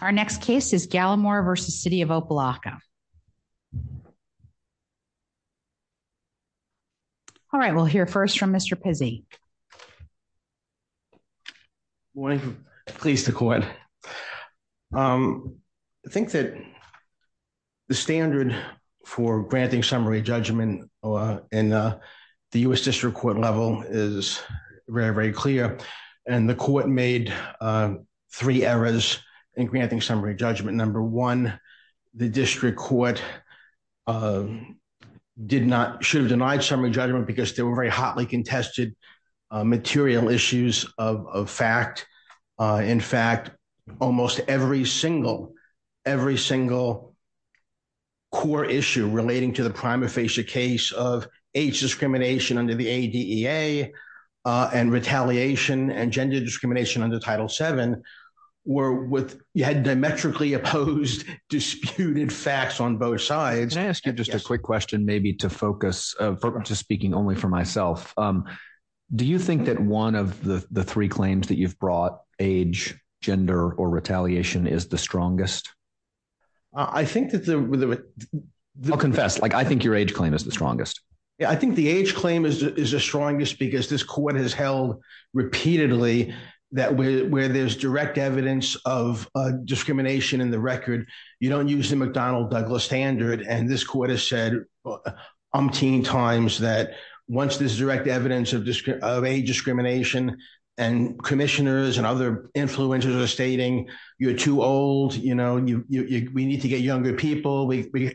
Our next case is Gallimore versus City of Opa-Locka. All right, we'll hear first from Mr. Pizzi. Morning. Pleased to court. I think that the standard for granting summary judgment in the U.S. District Court level is very, very clear and the court made three errors in granting summary judgment. Number one, the District Court did not, should have denied summary judgment because there were very hotly contested material issues of fact. In fact, almost every single, every single core issue relating to the prima facie case of age discrimination under the CEA and retaliation and gender discrimination under Title VII were with, you had diametrically opposed disputed facts on both sides. Can I ask you just a quick question, maybe to focus, just speaking only for myself. Do you think that one of the three claims that you've brought, age, gender, or retaliation, is the strongest? I think that the... I'll confess, like I think your age claim is the strongest. Yeah, I think the age claim is the strongest because this court has held repeatedly that where there's direct evidence of discrimination in the record, you don't use the McDonnell-Douglas standard. And this court has said umpteen times that once there's direct evidence of age discrimination, and commissioners and other influencers are stating, you're too old, you know, we need to get younger people. We,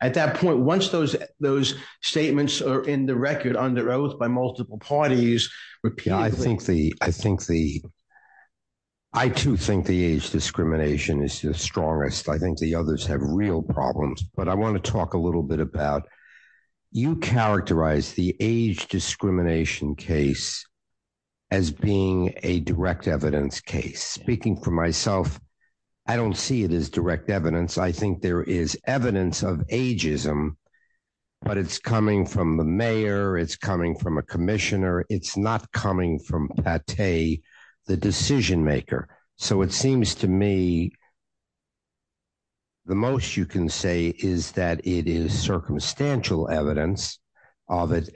at that point, once those, those statements are in the record under oath by multiple parties repeatedly... Yeah, I think the, I think the, I too think the age discrimination is the strongest. I think the others have real problems. But I want to talk a little bit about, you characterize the age discrimination case as being a direct evidence case. Speaking for myself, I don't see it as direct evidence. I think there is evidence of ageism, but it's coming from the mayor, it's coming from a commissioner, it's not coming from Pate, the decision maker. So it seems to me, the most you can say is that it is circumstantial evidence of it.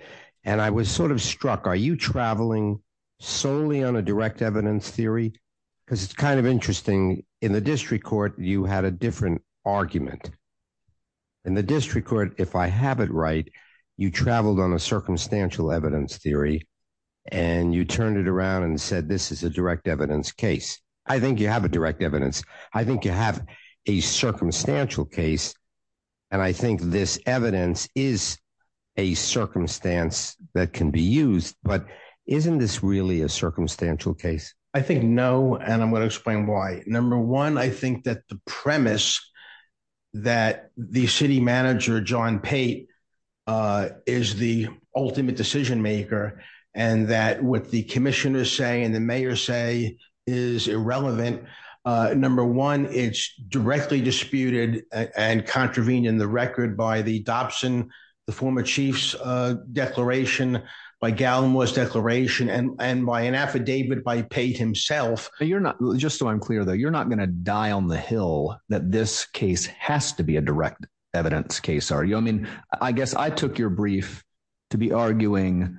And I was sort of struck, are you traveling solely on a direct evidence theory? Because it's kind of interesting, in the district court, you had a different argument. In the district court, if I have it right, you traveled on a circumstantial evidence theory. And you turned it around and said, this is a direct evidence case. I think you have a direct evidence. I think you have a circumstantial case. And I think this evidence is a circumstance that can be used. But isn't this really a circumstantial case? I think no, and I'm going to explain why. Number one, I think that the premise that the city manager, John Pate, is the ultimate decision maker, and that what the commissioners say and the mayor say is irrelevant. Number one, it's directly disputed and contravened in the record by the Dobson, the former chief's declaration, by Gallimore's declaration and by an affidavit by Pate himself. But you're not, just so I'm clear, though, you're not going to die on the hill that this case has to be a direct evidence case, are you? I mean, I guess I took your brief to be arguing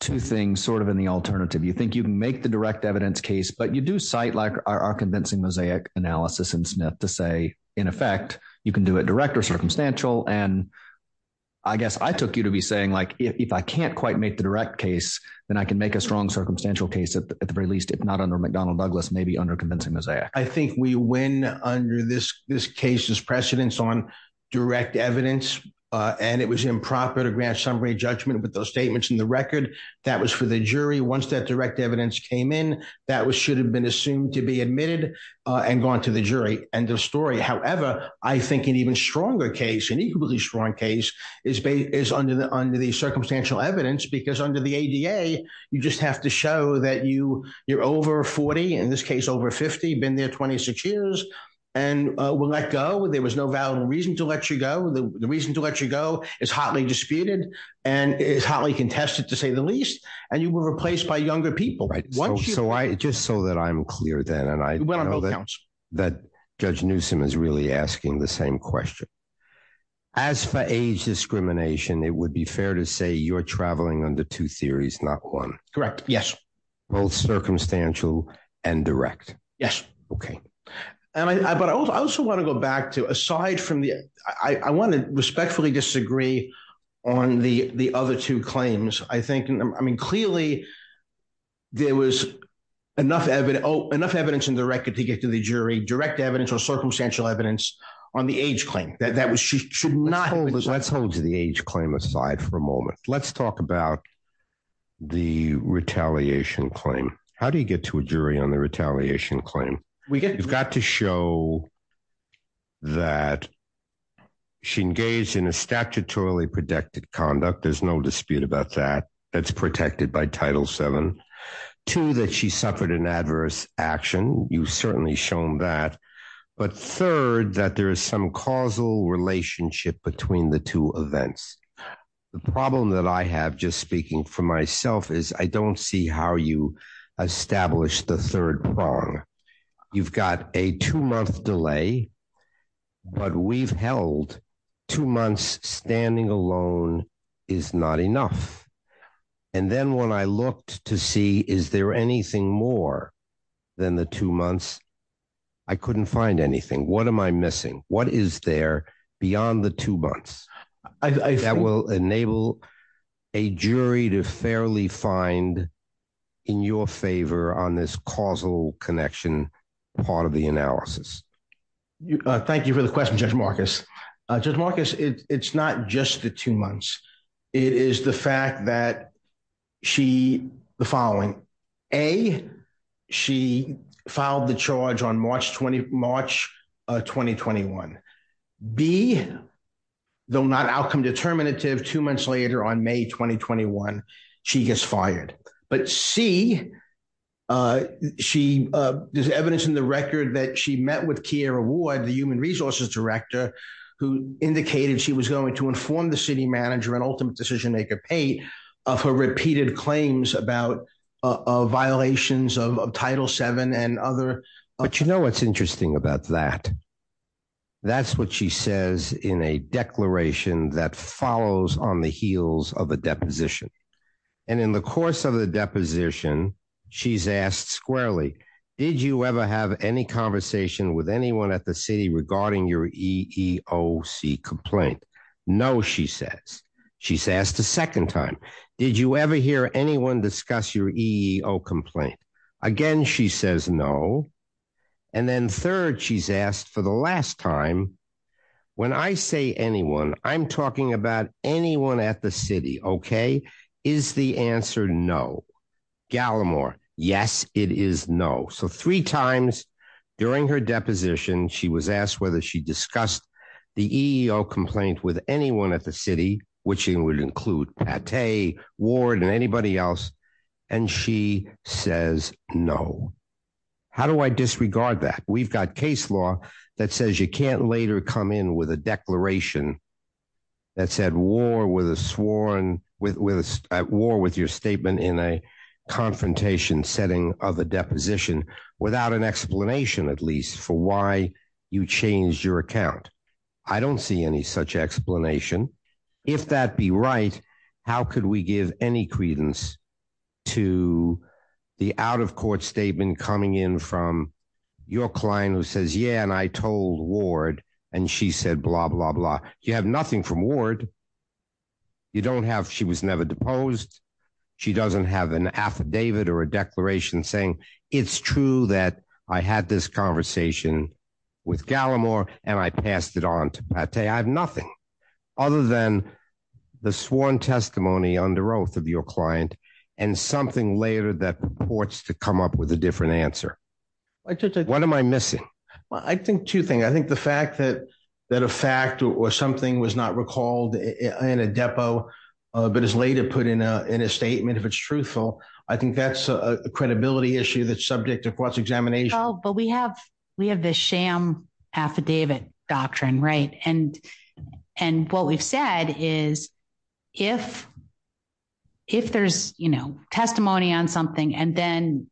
two things sort of in the alternative. You think you can make the direct evidence case, but you do cite our convincing mosaic analysis in Smith to say, in effect, you can do it direct or circumstantial. And I guess I took you to be saying, if I can't quite make the direct case, then I can make a strong circumstantial case at the very least, if not under McDonnell Douglas, maybe under convincing mosaic. I think we win under this case's precedence on direct evidence, and it was improper to grant summary judgment with those statements in the record. That was for the jury. Once that direct evidence came in, that should have been assumed to be admitted and gone to the jury. End of story. However, I think an even stronger case, an equally strong case, is under the circumstantial evidence, because under the ADA, you just have to show that you're over 40, in this case over 50, been there 26 years, and will let go. There was no valid reason to let you go. The reason to let you go is hotly disputed and is hotly contested, to say the least, and you were replaced by younger people. Right. So just so that I'm clear then, and I know that Judge Newsom is really asking the same question, as for age discrimination, it would be fair to say you're traveling under two theories, not one. Correct. Yes. Both circumstantial and direct. Yes. Okay. But I also want to go back to, aside from the, I want to respectfully disagree on the other two claims. I think, I mean, clearly, there was enough evidence in the on the age claim that she should not- Let's hold the age claim aside for a moment. Let's talk about the retaliation claim. How do you get to a jury on the retaliation claim? We get- You've got to show that she engaged in a statutorily protected conduct. There's no dispute about that. That's protected by Title VII. Two, that she suffered an adverse action. You've certainly shown that. But third, that there is some causal relationship between the two events. The problem that I have, just speaking for myself, is I don't see how you established the third prong. You've got a two-month delay, but we've held two months standing alone is not enough. And then when I looked to see, is there anything more than the two months, I couldn't find anything. What am I missing? What is there beyond the two months that will enable a jury to fairly find in your favor on this causal connection part of the analysis? Thank you for the question, Judge Marcus. Judge Marcus, it's not just the two months. It is the fact that she, the following, A, she filed the charge on March 2021. B, though not outcome determinative, two months later on May 2021, she gets fired. But C, there's evidence in the record that she met with Kiara Ward, the human resources director, who indicated she was going to inform the city of her repeated claims about violations of Title VII and other. But you know what's interesting about that? That's what she says in a declaration that follows on the heels of a deposition. And in the course of the deposition, she's asked squarely, did you ever have any conversation with anyone at the city regarding your EEOC complaint? No, she says. She's asked a second time, did you ever hear anyone discuss your EEO complaint? Again, she says no. And then third, she's asked for the last time, when I say anyone, I'm talking about anyone at the city, okay? Is the answer no? Gallimore, yes, it is no. So three times during her deposition, she was asked whether she discussed the EEO complaint with anyone at the city, which would include Pate, Ward, and anybody else. And she says no. How do I disregard that? We've got case law that says you can't later come in with a declaration that said at war with your statement in a confrontation setting of a I don't see any such explanation. If that be right, how could we give any credence to the out of court statement coming in from your client who says, yeah, and I told Ward, and she said, blah, blah, blah. You have nothing from Ward. You don't have, she was never deposed. She doesn't have an affidavit or a declaration saying, it's true that I had this conversation with Gallimore, and I passed it on to Pate. I have nothing other than the sworn testimony under oath of your client, and something later that purports to come up with a different answer. What am I missing? I think two things. I think the fact that a fact or something was not recalled in a depo, but is later put in a statement, if it's truthful, I think that's a credibility issue that's subject to cross-examination. Oh, but we have the sham affidavit doctrine, right? And what we've said is if there's testimony on something, and then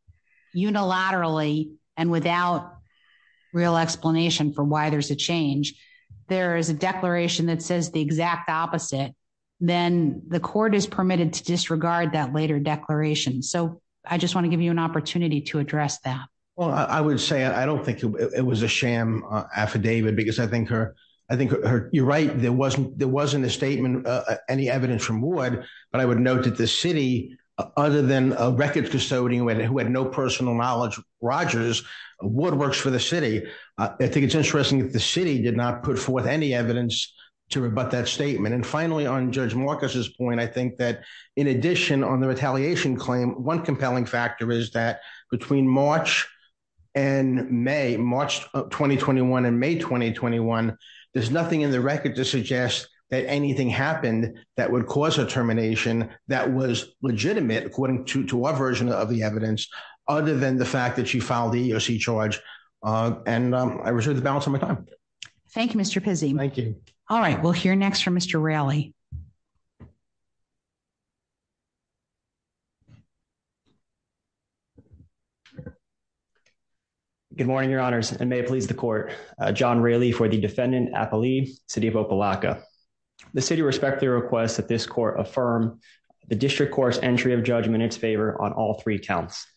unilaterally and without real explanation for why there's a change, there is a declaration that says the exact opposite, then the court is permitted to disregard that later declaration. So I just want to give you opportunity to address that. Well, I would say I don't think it was a sham affidavit because I think you're right, there wasn't a statement, any evidence from Ward, but I would note that the city, other than a records custodian who had no personal knowledge of Rogers, Ward works for the city. I think it's interesting that the city did not put forth any evidence to rebut that statement. And finally, on Judge Marcus's point, I think that in addition on the retaliation claim, one compelling factor is that between March and May, March 2021 and May 2021, there's nothing in the record to suggest that anything happened that would cause a termination that was legitimate, according to our version of the evidence, other than the fact that she filed the EEOC charge. And I reserve the balance of my time. Thank you, Mr. Pizzi. Thank you. All right, we'll hear next from Mr. Raleigh. Good morning, your honors, and may it please the court. John Raleigh for the defendant, Appali, City of Opelika. The city respectfully requests that this court affirm the district court's entry of judgment in its favor on all three counts.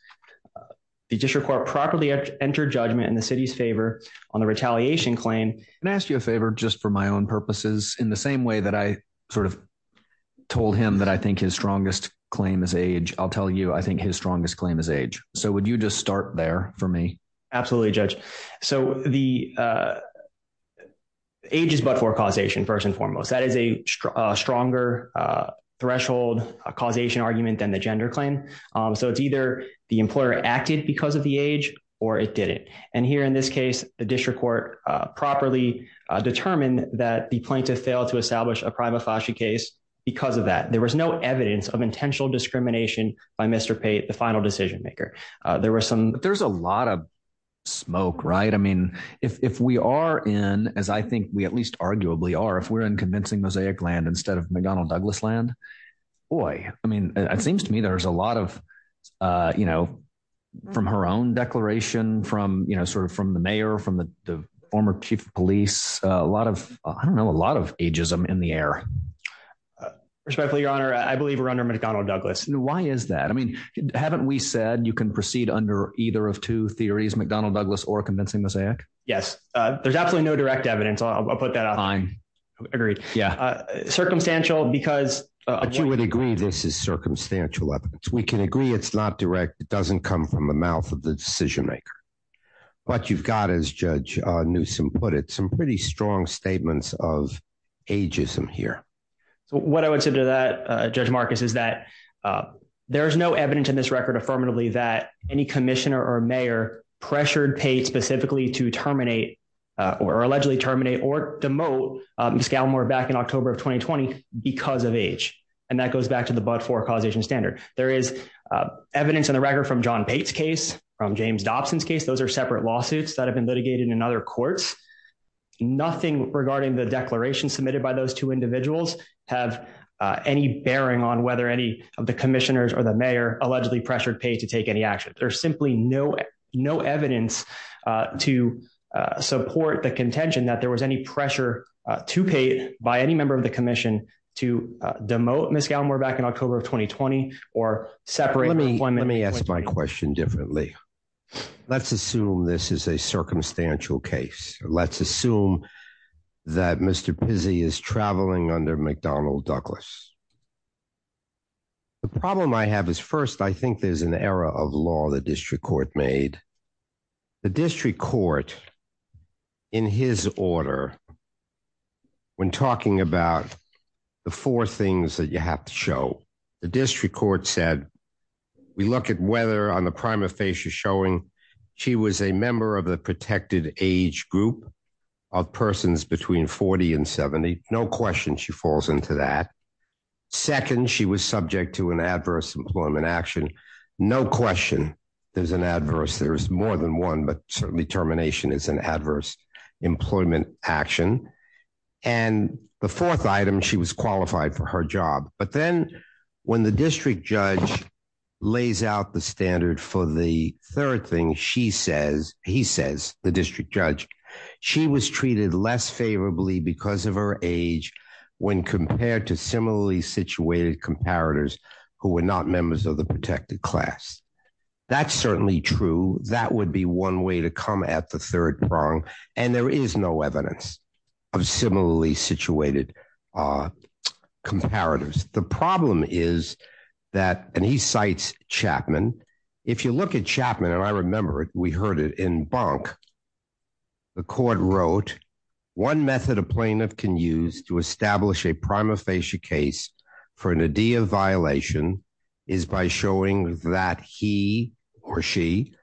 The district court properly entered judgment in the city's favor on the retaliation claim. Can I ask you a favor, just for my own purposes, in the same way that I sort of told him that I think his strongest claim is age, I'll tell you I think his strongest claim is age. So, would you just start there for me? Absolutely, Judge. So, the age is but for causation, first and foremost. That is a stronger threshold causation argument than the gender claim. So, it's either the employer acted because of the age or it didn't. And here in this case, the district court properly determined that the plaintiff failed to establish a prima facie case because of that. There was no evidence of intentional discrimination by Mr. Pate, the final decision maker. There was some... There's a lot of smoke, right? I mean, if we are in, as I think we at least arguably are, if we're in convincing mosaic land instead of McDonnell Douglas land, boy, I mean, it seems to me there's a lot of, you know, from her own declaration, from, you know, sort of from the mayor, from the former chief of police, a lot of, I don't know, a lot of ageism in the air. Respectfully, your honor, I believe we're under McDonnell Douglas. Why is that? I mean, haven't we said you can proceed under either of two theories, McDonnell Douglas or convincing mosaic? Yes, there's absolutely no direct evidence. I'll put that out. I agree. Yeah. Circumstantial because... But you would agree this is circumstantial evidence. We can agree it's not direct. It doesn't come from the mouth of the decision maker. But you've got, as Judge Newsom put it, some pretty strong statements of ageism here. So what I would say to that, Judge Marcus, is that there is no evidence in this record affirmatively that any commissioner or mayor pressured Pate specifically to terminate or allegedly terminate or demote Ms. Gallimore back in October of 2020 because of age. And that goes back to the Bud 4 causation standard. There is evidence in the record from John Pate's case, from James Dobson's case. Those are separate lawsuits that have been litigated in other courts. Nothing regarding the declaration submitted by those two individuals have any bearing on whether any of the commissioners or the mayor allegedly pressured Pate to take any action. There's simply no evidence to support the contention that there was any pressure to Pate by any member of the commission to demote Ms. Gallimore back in October of 2020 or separate... Let me ask my question differently. Let's assume this is a circumstantial case. Let's assume that Mr. Pizzi is traveling under McDonnell Douglas. The problem I have is, first, I think there's an error of law the district court made. The district court, in his order, when talking about the four things that you have to show, the district court said, we look at whether on the primer face you're showing, she was a member of the protected age group of persons between 40 and 70. No question she falls into that. Second, she was subject to an adverse employment action. No question there's an adverse more than one, but certainly termination is an adverse employment action. And the fourth item, she was qualified for her job. But then when the district judge lays out the standard for the third thing, he says, the district judge, she was treated less favorably because of her age when compared to similarly situated comparators who were not members of the protected class. That's certainly true. That would be one way to come at the third prong, and there is no evidence of similarly situated comparators. The problem is that, and he cites Chapman, if you look at Chapman, and I remember it, we heard it in Bonk, the court wrote, one method a plaintiff can use to establish a prima facie case for an idea of violation is by showing that he or she,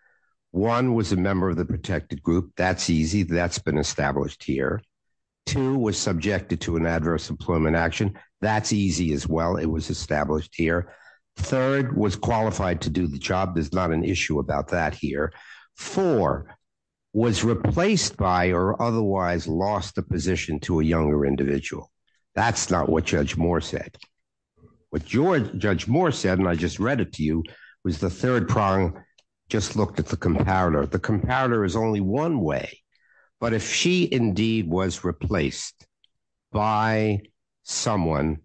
one was a member of the protected group. That's easy. That's been established here. Two was subjected to an adverse employment action. That's easy as well. It was established here. Third was qualified to do the job. There's not an issue about that here. Four was replaced by or otherwise lost the position to a younger individual. That's not what Judge Moore said. What Judge Moore said, and I just read it to you, was the third prong, just looked at the comparator. The comparator is only one way, but if she indeed was replaced by someone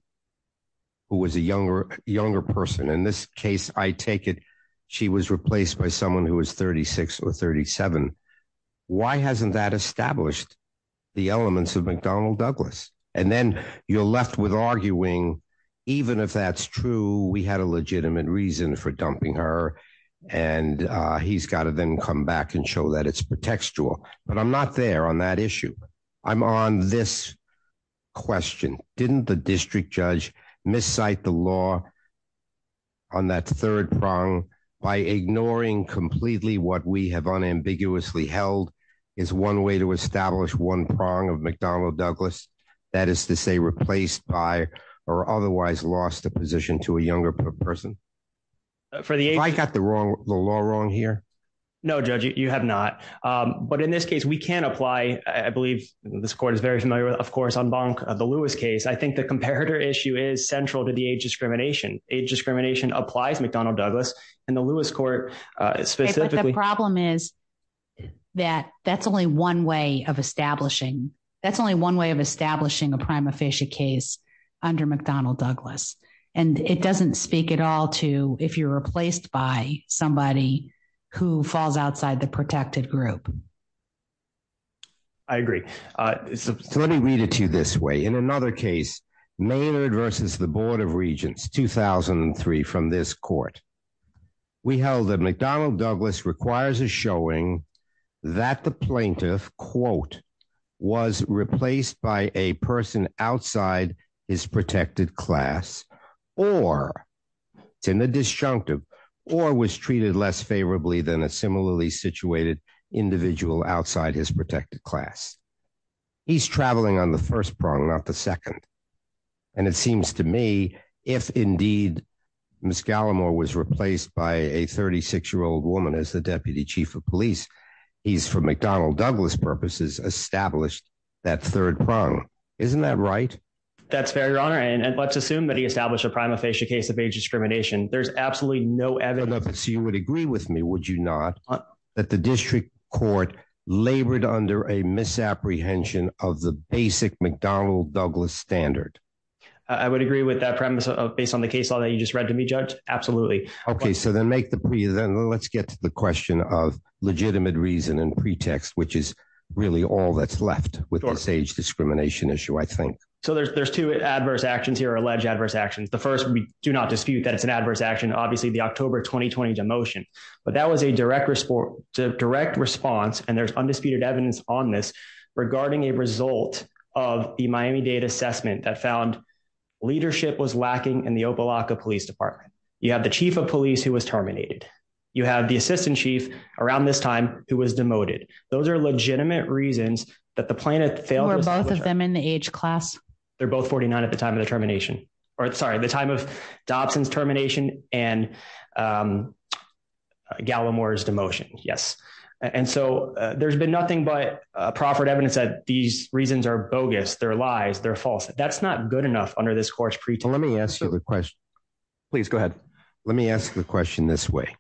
who was a younger person, in this case, I take it, she was replaced by someone who was 36 or 37. Why hasn't that established the elements of McDonnell Douglas? And then you're left with arguing, even if that's true, we had a legitimate reason for dumping her, and he's got to then come back and show that it's pretextual. But I'm not there on that issue. I'm on this question. Didn't the district judge miscite the law on that third prong by ignoring completely what we have unambiguously held is one way to establish one prong of McDonnell Douglas, that is to say, replaced by or otherwise lost the position to a younger person? Have I got the law wrong here? No, Judge, you have not. But in this case, we can apply, I believe this court is very familiar with, of course, on the Lewis case. I think the comparator issue is central to the age discrimination. Age discrimination applies McDonnell Douglas, and the Lewis court specifically. But the problem is that that's only one way of establishing, that's only one way of establishing a prima facie case under McDonnell Douglas. And it doesn't speak at all to if you're replaced by somebody who falls outside the protected group. I agree. So let me read it to you this way. In another case, Maynard versus the Board of Regents, 2003 from this court, we held that McDonnell Douglas requires a showing that the plaintiff, quote, was replaced by a person outside his protected class, or it's in the disjunctive, or was treated less favorably than a similarly situated individual outside his protected class. He's traveling on the first prong, not the second. And it seems to me, if indeed, Ms. Gallimore was replaced by a 36-year-old woman as the deputy chief of police, he's, for McDonnell Douglas purposes, established that third prong. Isn't that right? That's fair, Your Honor. And let's assume that he established a prima facie case of age discrimination. There's absolutely no evidence. So you would agree with me, would you not, that the district court labored under a misapprehension of the basic McDonnell Douglas standard? I would agree with that premise based on the case law that you just read to me, Judge. Absolutely. Okay. So then let's get to the question of legitimate reason and pretext, which is really all that's left with this age discrimination issue, I think. So there's two adverse actions here, alleged adverse actions. The first, we do not dispute that it's an adverse action, obviously, the October 2020 demotion. But that was a direct response, and there's undisputed evidence on this regarding a result of the Miami-Dade assessment that found leadership was lacking in the Opa-Locka Police Department. You have the chief of police who was terminated. You have the assistant chief around this time who was demoted. Those are legitimate reasons that the plaintiff failed- Were both of them in the age class? They're both 49 at the time of the termination, or sorry, the time of Dobson's termination and Gallimore's demotion. Yes. And so there's been nothing but proffered evidence that these reasons are bogus, they're lies, they're false. That's not good enough under this course pretext. Let me ask you the question. Please go ahead. Let me ask the question this way.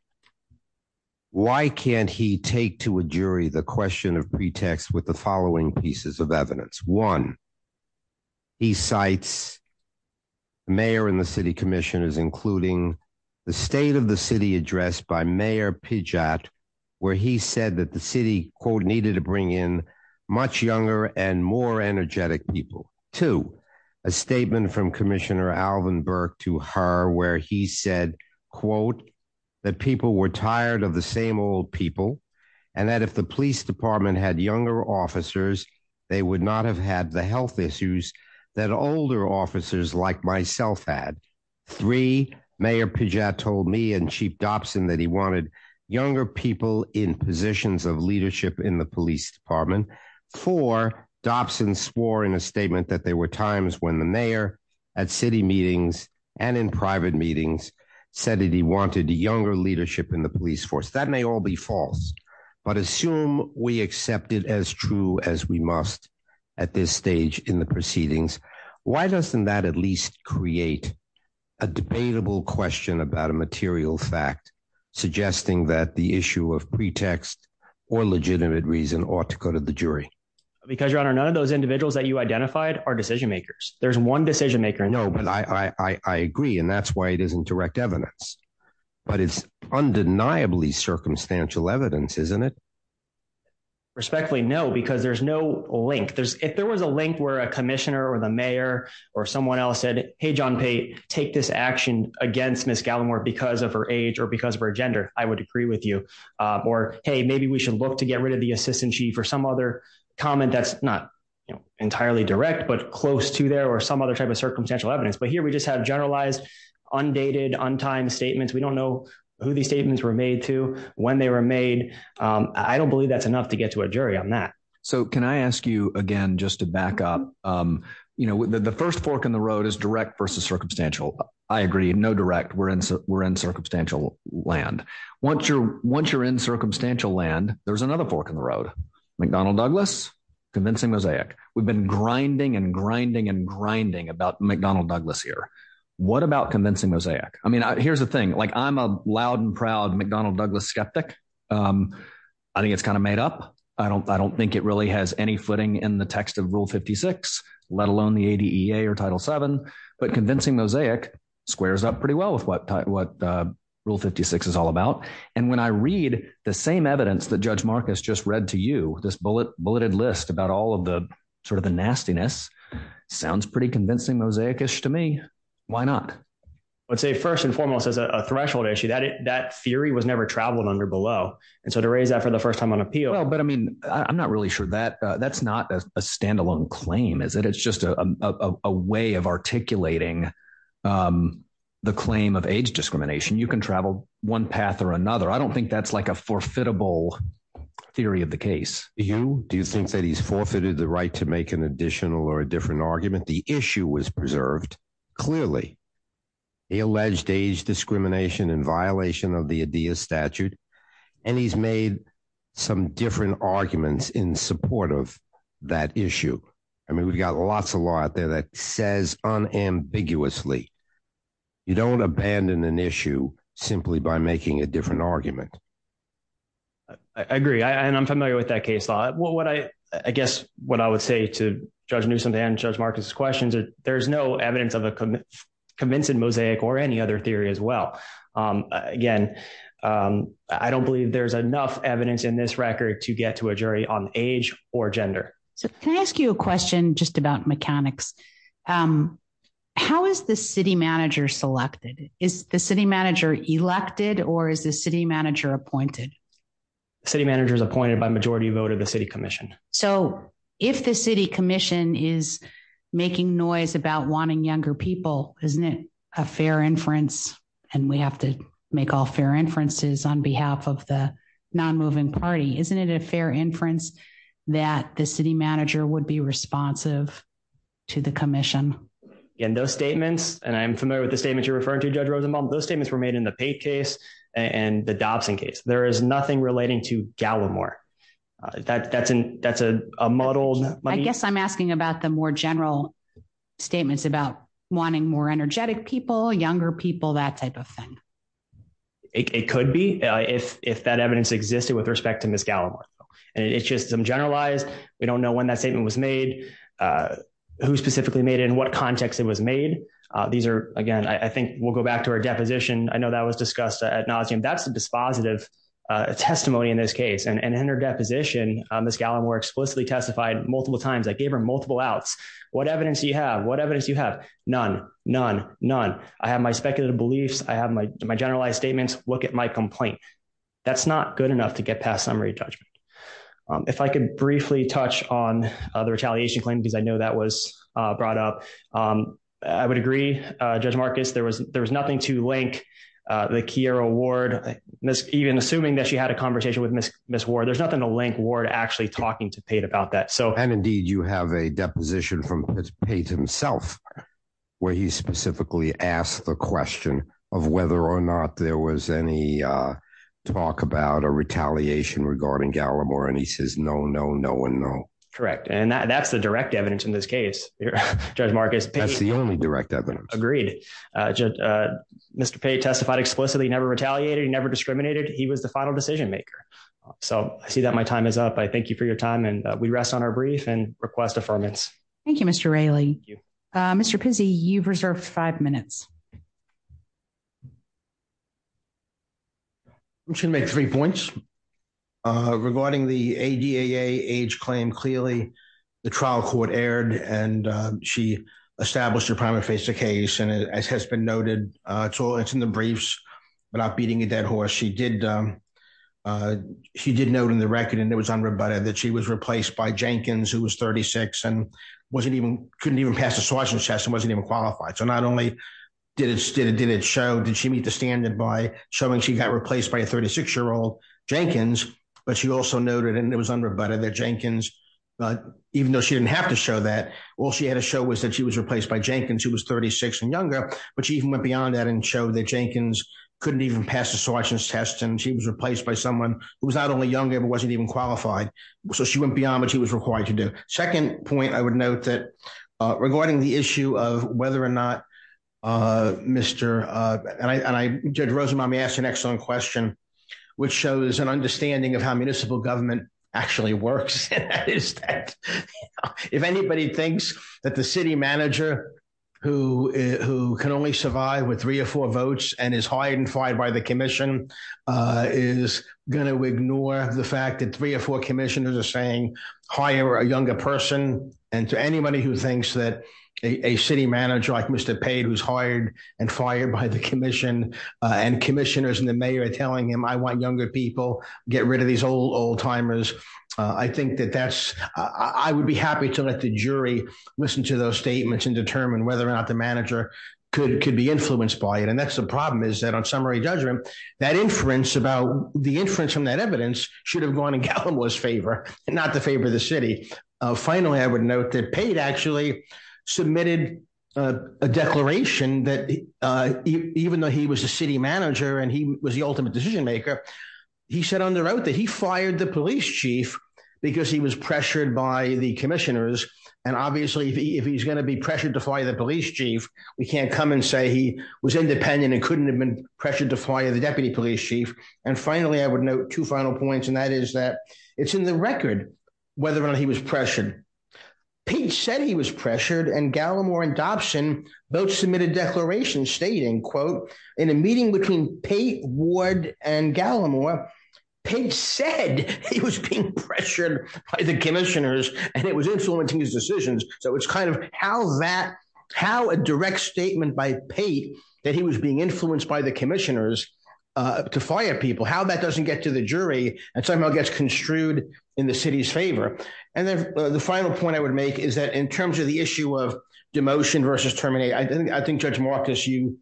Why can't he take to a jury the question of pretext with the following pieces of evidence? One, he cites mayor and the city commissioners, including the state of the city addressed by Mayor Pidgott, where he said that the city, quote, needed to bring in much younger and more energetic people. Two, a statement from Commissioner Alvin Burke to her where he said, quote, that people were tired of the same old people, and that if the police department had younger officers, they would not have had the health issues that older officers like myself had. Three, Mayor Pidgott told me and Chief Dobson that he wanted younger people in positions of leadership in the police department. Four, Dobson swore in a statement that there were times when the mayor, at city meetings and in private meetings, said that he wanted younger leadership in the police force. That may all be false, but assume we accept it as true as we must at this stage in the proceedings. Why doesn't that at least create a debatable question about a material fact suggesting that the issue of pretext or legitimate reason ought to go to the jury? Because your honor, none of those individuals that you identified are decision makers. There's one decision maker. No, but I agree, and that's why it isn't direct evidence. But it's undeniably circumstantial evidence, isn't it? Respectfully, no, because there's no link. If there was a link where a commissioner or the mayor or someone else said, hey, John Pate, take this action against Ms. Gallimore because of her age or because of her gender, I would agree with you. Or hey, maybe we should look to get rid of the assistant chief or some other comment that's not entirely direct, but close to there or some other type of circumstantial evidence. But here we just have generalized, undated, untimed statements. We don't know who these statements were made to, when they were made. I don't believe that's enough to get to a jury on that. So can I ask you again, just to back up, the first fork in the road is direct versus circumstantial. I agree, no direct. We're in circumstantial land. Once you're in circumstantial land, there's another fork in the road. McDonnell Douglas, convincing mosaic. We've been grinding and grinding and grinding about McDonnell Douglas here. What about convincing mosaic? Here's the thing. I'm a loud and proud McDonnell Douglas skeptic. I think it's kind of made up. I don't think it really has any footing in the text of Rule 56, let alone the ADEA or Title VII. But convincing mosaic squares up pretty well with what Rule 56 is all about. And when I read the same evidence that Judge Marcus just read to you, this bulleted list about sort of the nastiness, sounds pretty convincing mosaic-ish to me. Why not? I'd say first and foremost, as a threshold issue, that theory was never traveled under below. And so to raise that for the first time on appeal... Well, but I mean, I'm not really sure. That's not a standalone claim, is it? It's just a way of articulating the claim of age discrimination. You can travel one path or another. I don't think that's like a forfeitable theory of the case. Do you think that he's forfeited the right to make an additional or a different argument? The issue was preserved, clearly. He alleged age discrimination in violation of the ADEA statute. And he's made some different arguments in support of that issue. I mean, we've got lots of law out there that says unambiguously, you don't abandon an issue simply by making a different argument. I agree. And I'm familiar with that case law. I guess what I would say to Judge Newsom and Judge Marcus' questions is there's no evidence of a convincing mosaic or any other theory as well. Again, I don't believe there's enough evidence in this record to get to a jury on age or gender. So can I ask you a question just about mechanics? How is the city manager selected? Is the city manager elected or is the city manager appointed? The city manager is appointed by majority vote of the city commission. So if the city commission is making noise about wanting younger people, isn't it a fair inference? And we have to make all fair inferences on behalf of the non-moving party. Isn't it a fair inference that the city manager would be responsive to the commission? Again, those statements, and I'm familiar with the statement you're referring to, Judge Rosenbaum, those statements were made in the Pate case and the Dobson case. There is nothing relating to Gallimore. That's a muddled... I guess I'm asking about the more general statements about wanting more energetic people, younger people, that type of thing. It could be if that evidence existed with respect to Ms. Gallimore. And it's just some generalized, we don't know when that statement was made, who specifically made it, in what context it was made. These are, again, I think we'll go back to our deposition. I know that was discussed at nauseam. That's a dispositive testimony in this case. And in her deposition, Ms. Gallimore explicitly testified multiple times. I gave her multiple outs. What evidence do you have? What evidence do you have? None, none, none. I have my speculative beliefs. I have my generalized statements. Look at my complaint. That's not good enough to get past summary judgment. If I could briefly touch on the retaliation claim, because I know that was brought up. I would agree, Judge Marcus, there was nothing to link the Kiera Ward, even assuming that she had a conversation with Ms. Ward, there's nothing to link Ward actually talking to Pate about that. And indeed, you have a deposition from Pate himself, where he specifically asked the question of whether or not there was any talk about a retaliation regarding Gallimore. And he says, no, no, no, and no. Correct. And that's the direct evidence in this case, Judge Marcus. That's the only direct evidence. Agreed. Mr. Pate testified explicitly, never retaliated, never discriminated. He was the final decision maker. So I see that my time is up. I thank you for your time. And we rest on our brief and request affirmance. Thank you, Mr. Raley. Mr. Pizzi, you've reserved five minutes. I'm just going to make three points. Regarding the ADAA age claim, clearly, the trial court erred, and she established her prima facie case. And as has been noted, it's in the briefs, but I'm beating a dead horse. She did note in the record, and it was unrebutted, that she was replaced by Jenkins, who was 36, and couldn't even pass the Swatch and Test, and wasn't even qualified. So not only did it show, did she meet the standard by showing she got replaced by a 36-year-old Jenkins, but she also noted, and it was unrebutted, that Jenkins, even though she didn't have to show that, all she had to show was that she was replaced by Jenkins, who was 36 and younger. But she even went beyond that and showed that Jenkins couldn't even pass the Swatch and Test, and she was replaced by someone who was not only younger, but wasn't even qualified. So she went beyond what she was required to do. Second point I would note that regarding the issue of whether or not Mr. and I, Judge Rosenbaum, you asked an excellent question, which shows an understanding of how municipal government actually works. If anybody thinks that the city manager who can only survive with three or four votes and is hired and fired by the commission is going to ignore the fact that three or four commissioners are saying, hire a younger person, and to anybody who thinks that a city manager like Mr. Pate, who's hired and fired by the commission, and commissioners and the mayor telling him, I want younger people, get rid of these old timers, I think that that's, I would be happy to let the jury listen to those statements and determine whether or not the manager could be influenced by it. And that's the problem is that on summary judgment, that inference about the inference from that evidence should have gone in Gallimore's favor, and not the favor of the city. Finally, I would note that Pate actually submitted a declaration that even though he was a city manager, and he was the ultimate decision maker, he said on the road that he fired the police chief, because he was pressured by the commissioners. And obviously, if he's going to be pressured to fire the police chief, we can't come and say he was independent and couldn't have been pressured to fire the deputy police chief. And finally, I would note two final points. And that is that it's in the record, whether or not he was pressured. Pate said he was pressured and Gallimore and Dobson both submitted declarations stating, quote, in a meeting between Pate, Ward, and Gallimore, Pate said he was being pressured by the commissioners, and it was influencing his decisions. So it's kind of how that, how a direct statement by Pate that he was being influenced by the commissioners to fire people, how that doesn't get to the jury, and somehow gets construed in the city's favor. And then the final point I would make is that in terms of the issue of demotion versus terminating, I think Judge Marcus, you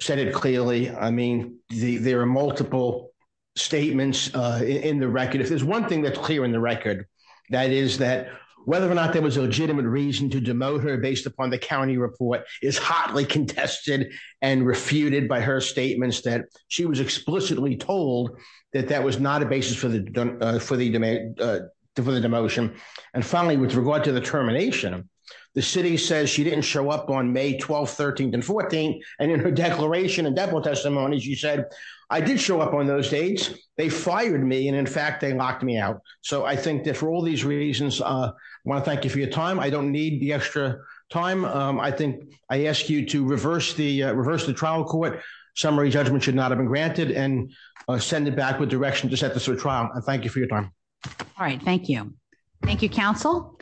said it clearly. I mean, there are multiple statements in the record. If there's one thing that's clear in the record, that is that whether or not there was a legitimate reason to demote her based upon the county report is hotly contested and refuted by her statements that she was explicitly told that that was not a basis for the demotion. And finally, with regard to the termination, the city says she didn't show up on May 12th, 13th, and 14th, and in her declaration and depot testimony, she said, I did show up on those days. They fired me, and in fact, they locked me out. So I think that for all these reasons, I want to thank you for your time. I don't need the extra time. I think I ask you to reverse the trial court. Summary judgment should not have been granted, and send it back with direction to set the trial. I thank you for your time. All right. Thank you. Thank you, Council.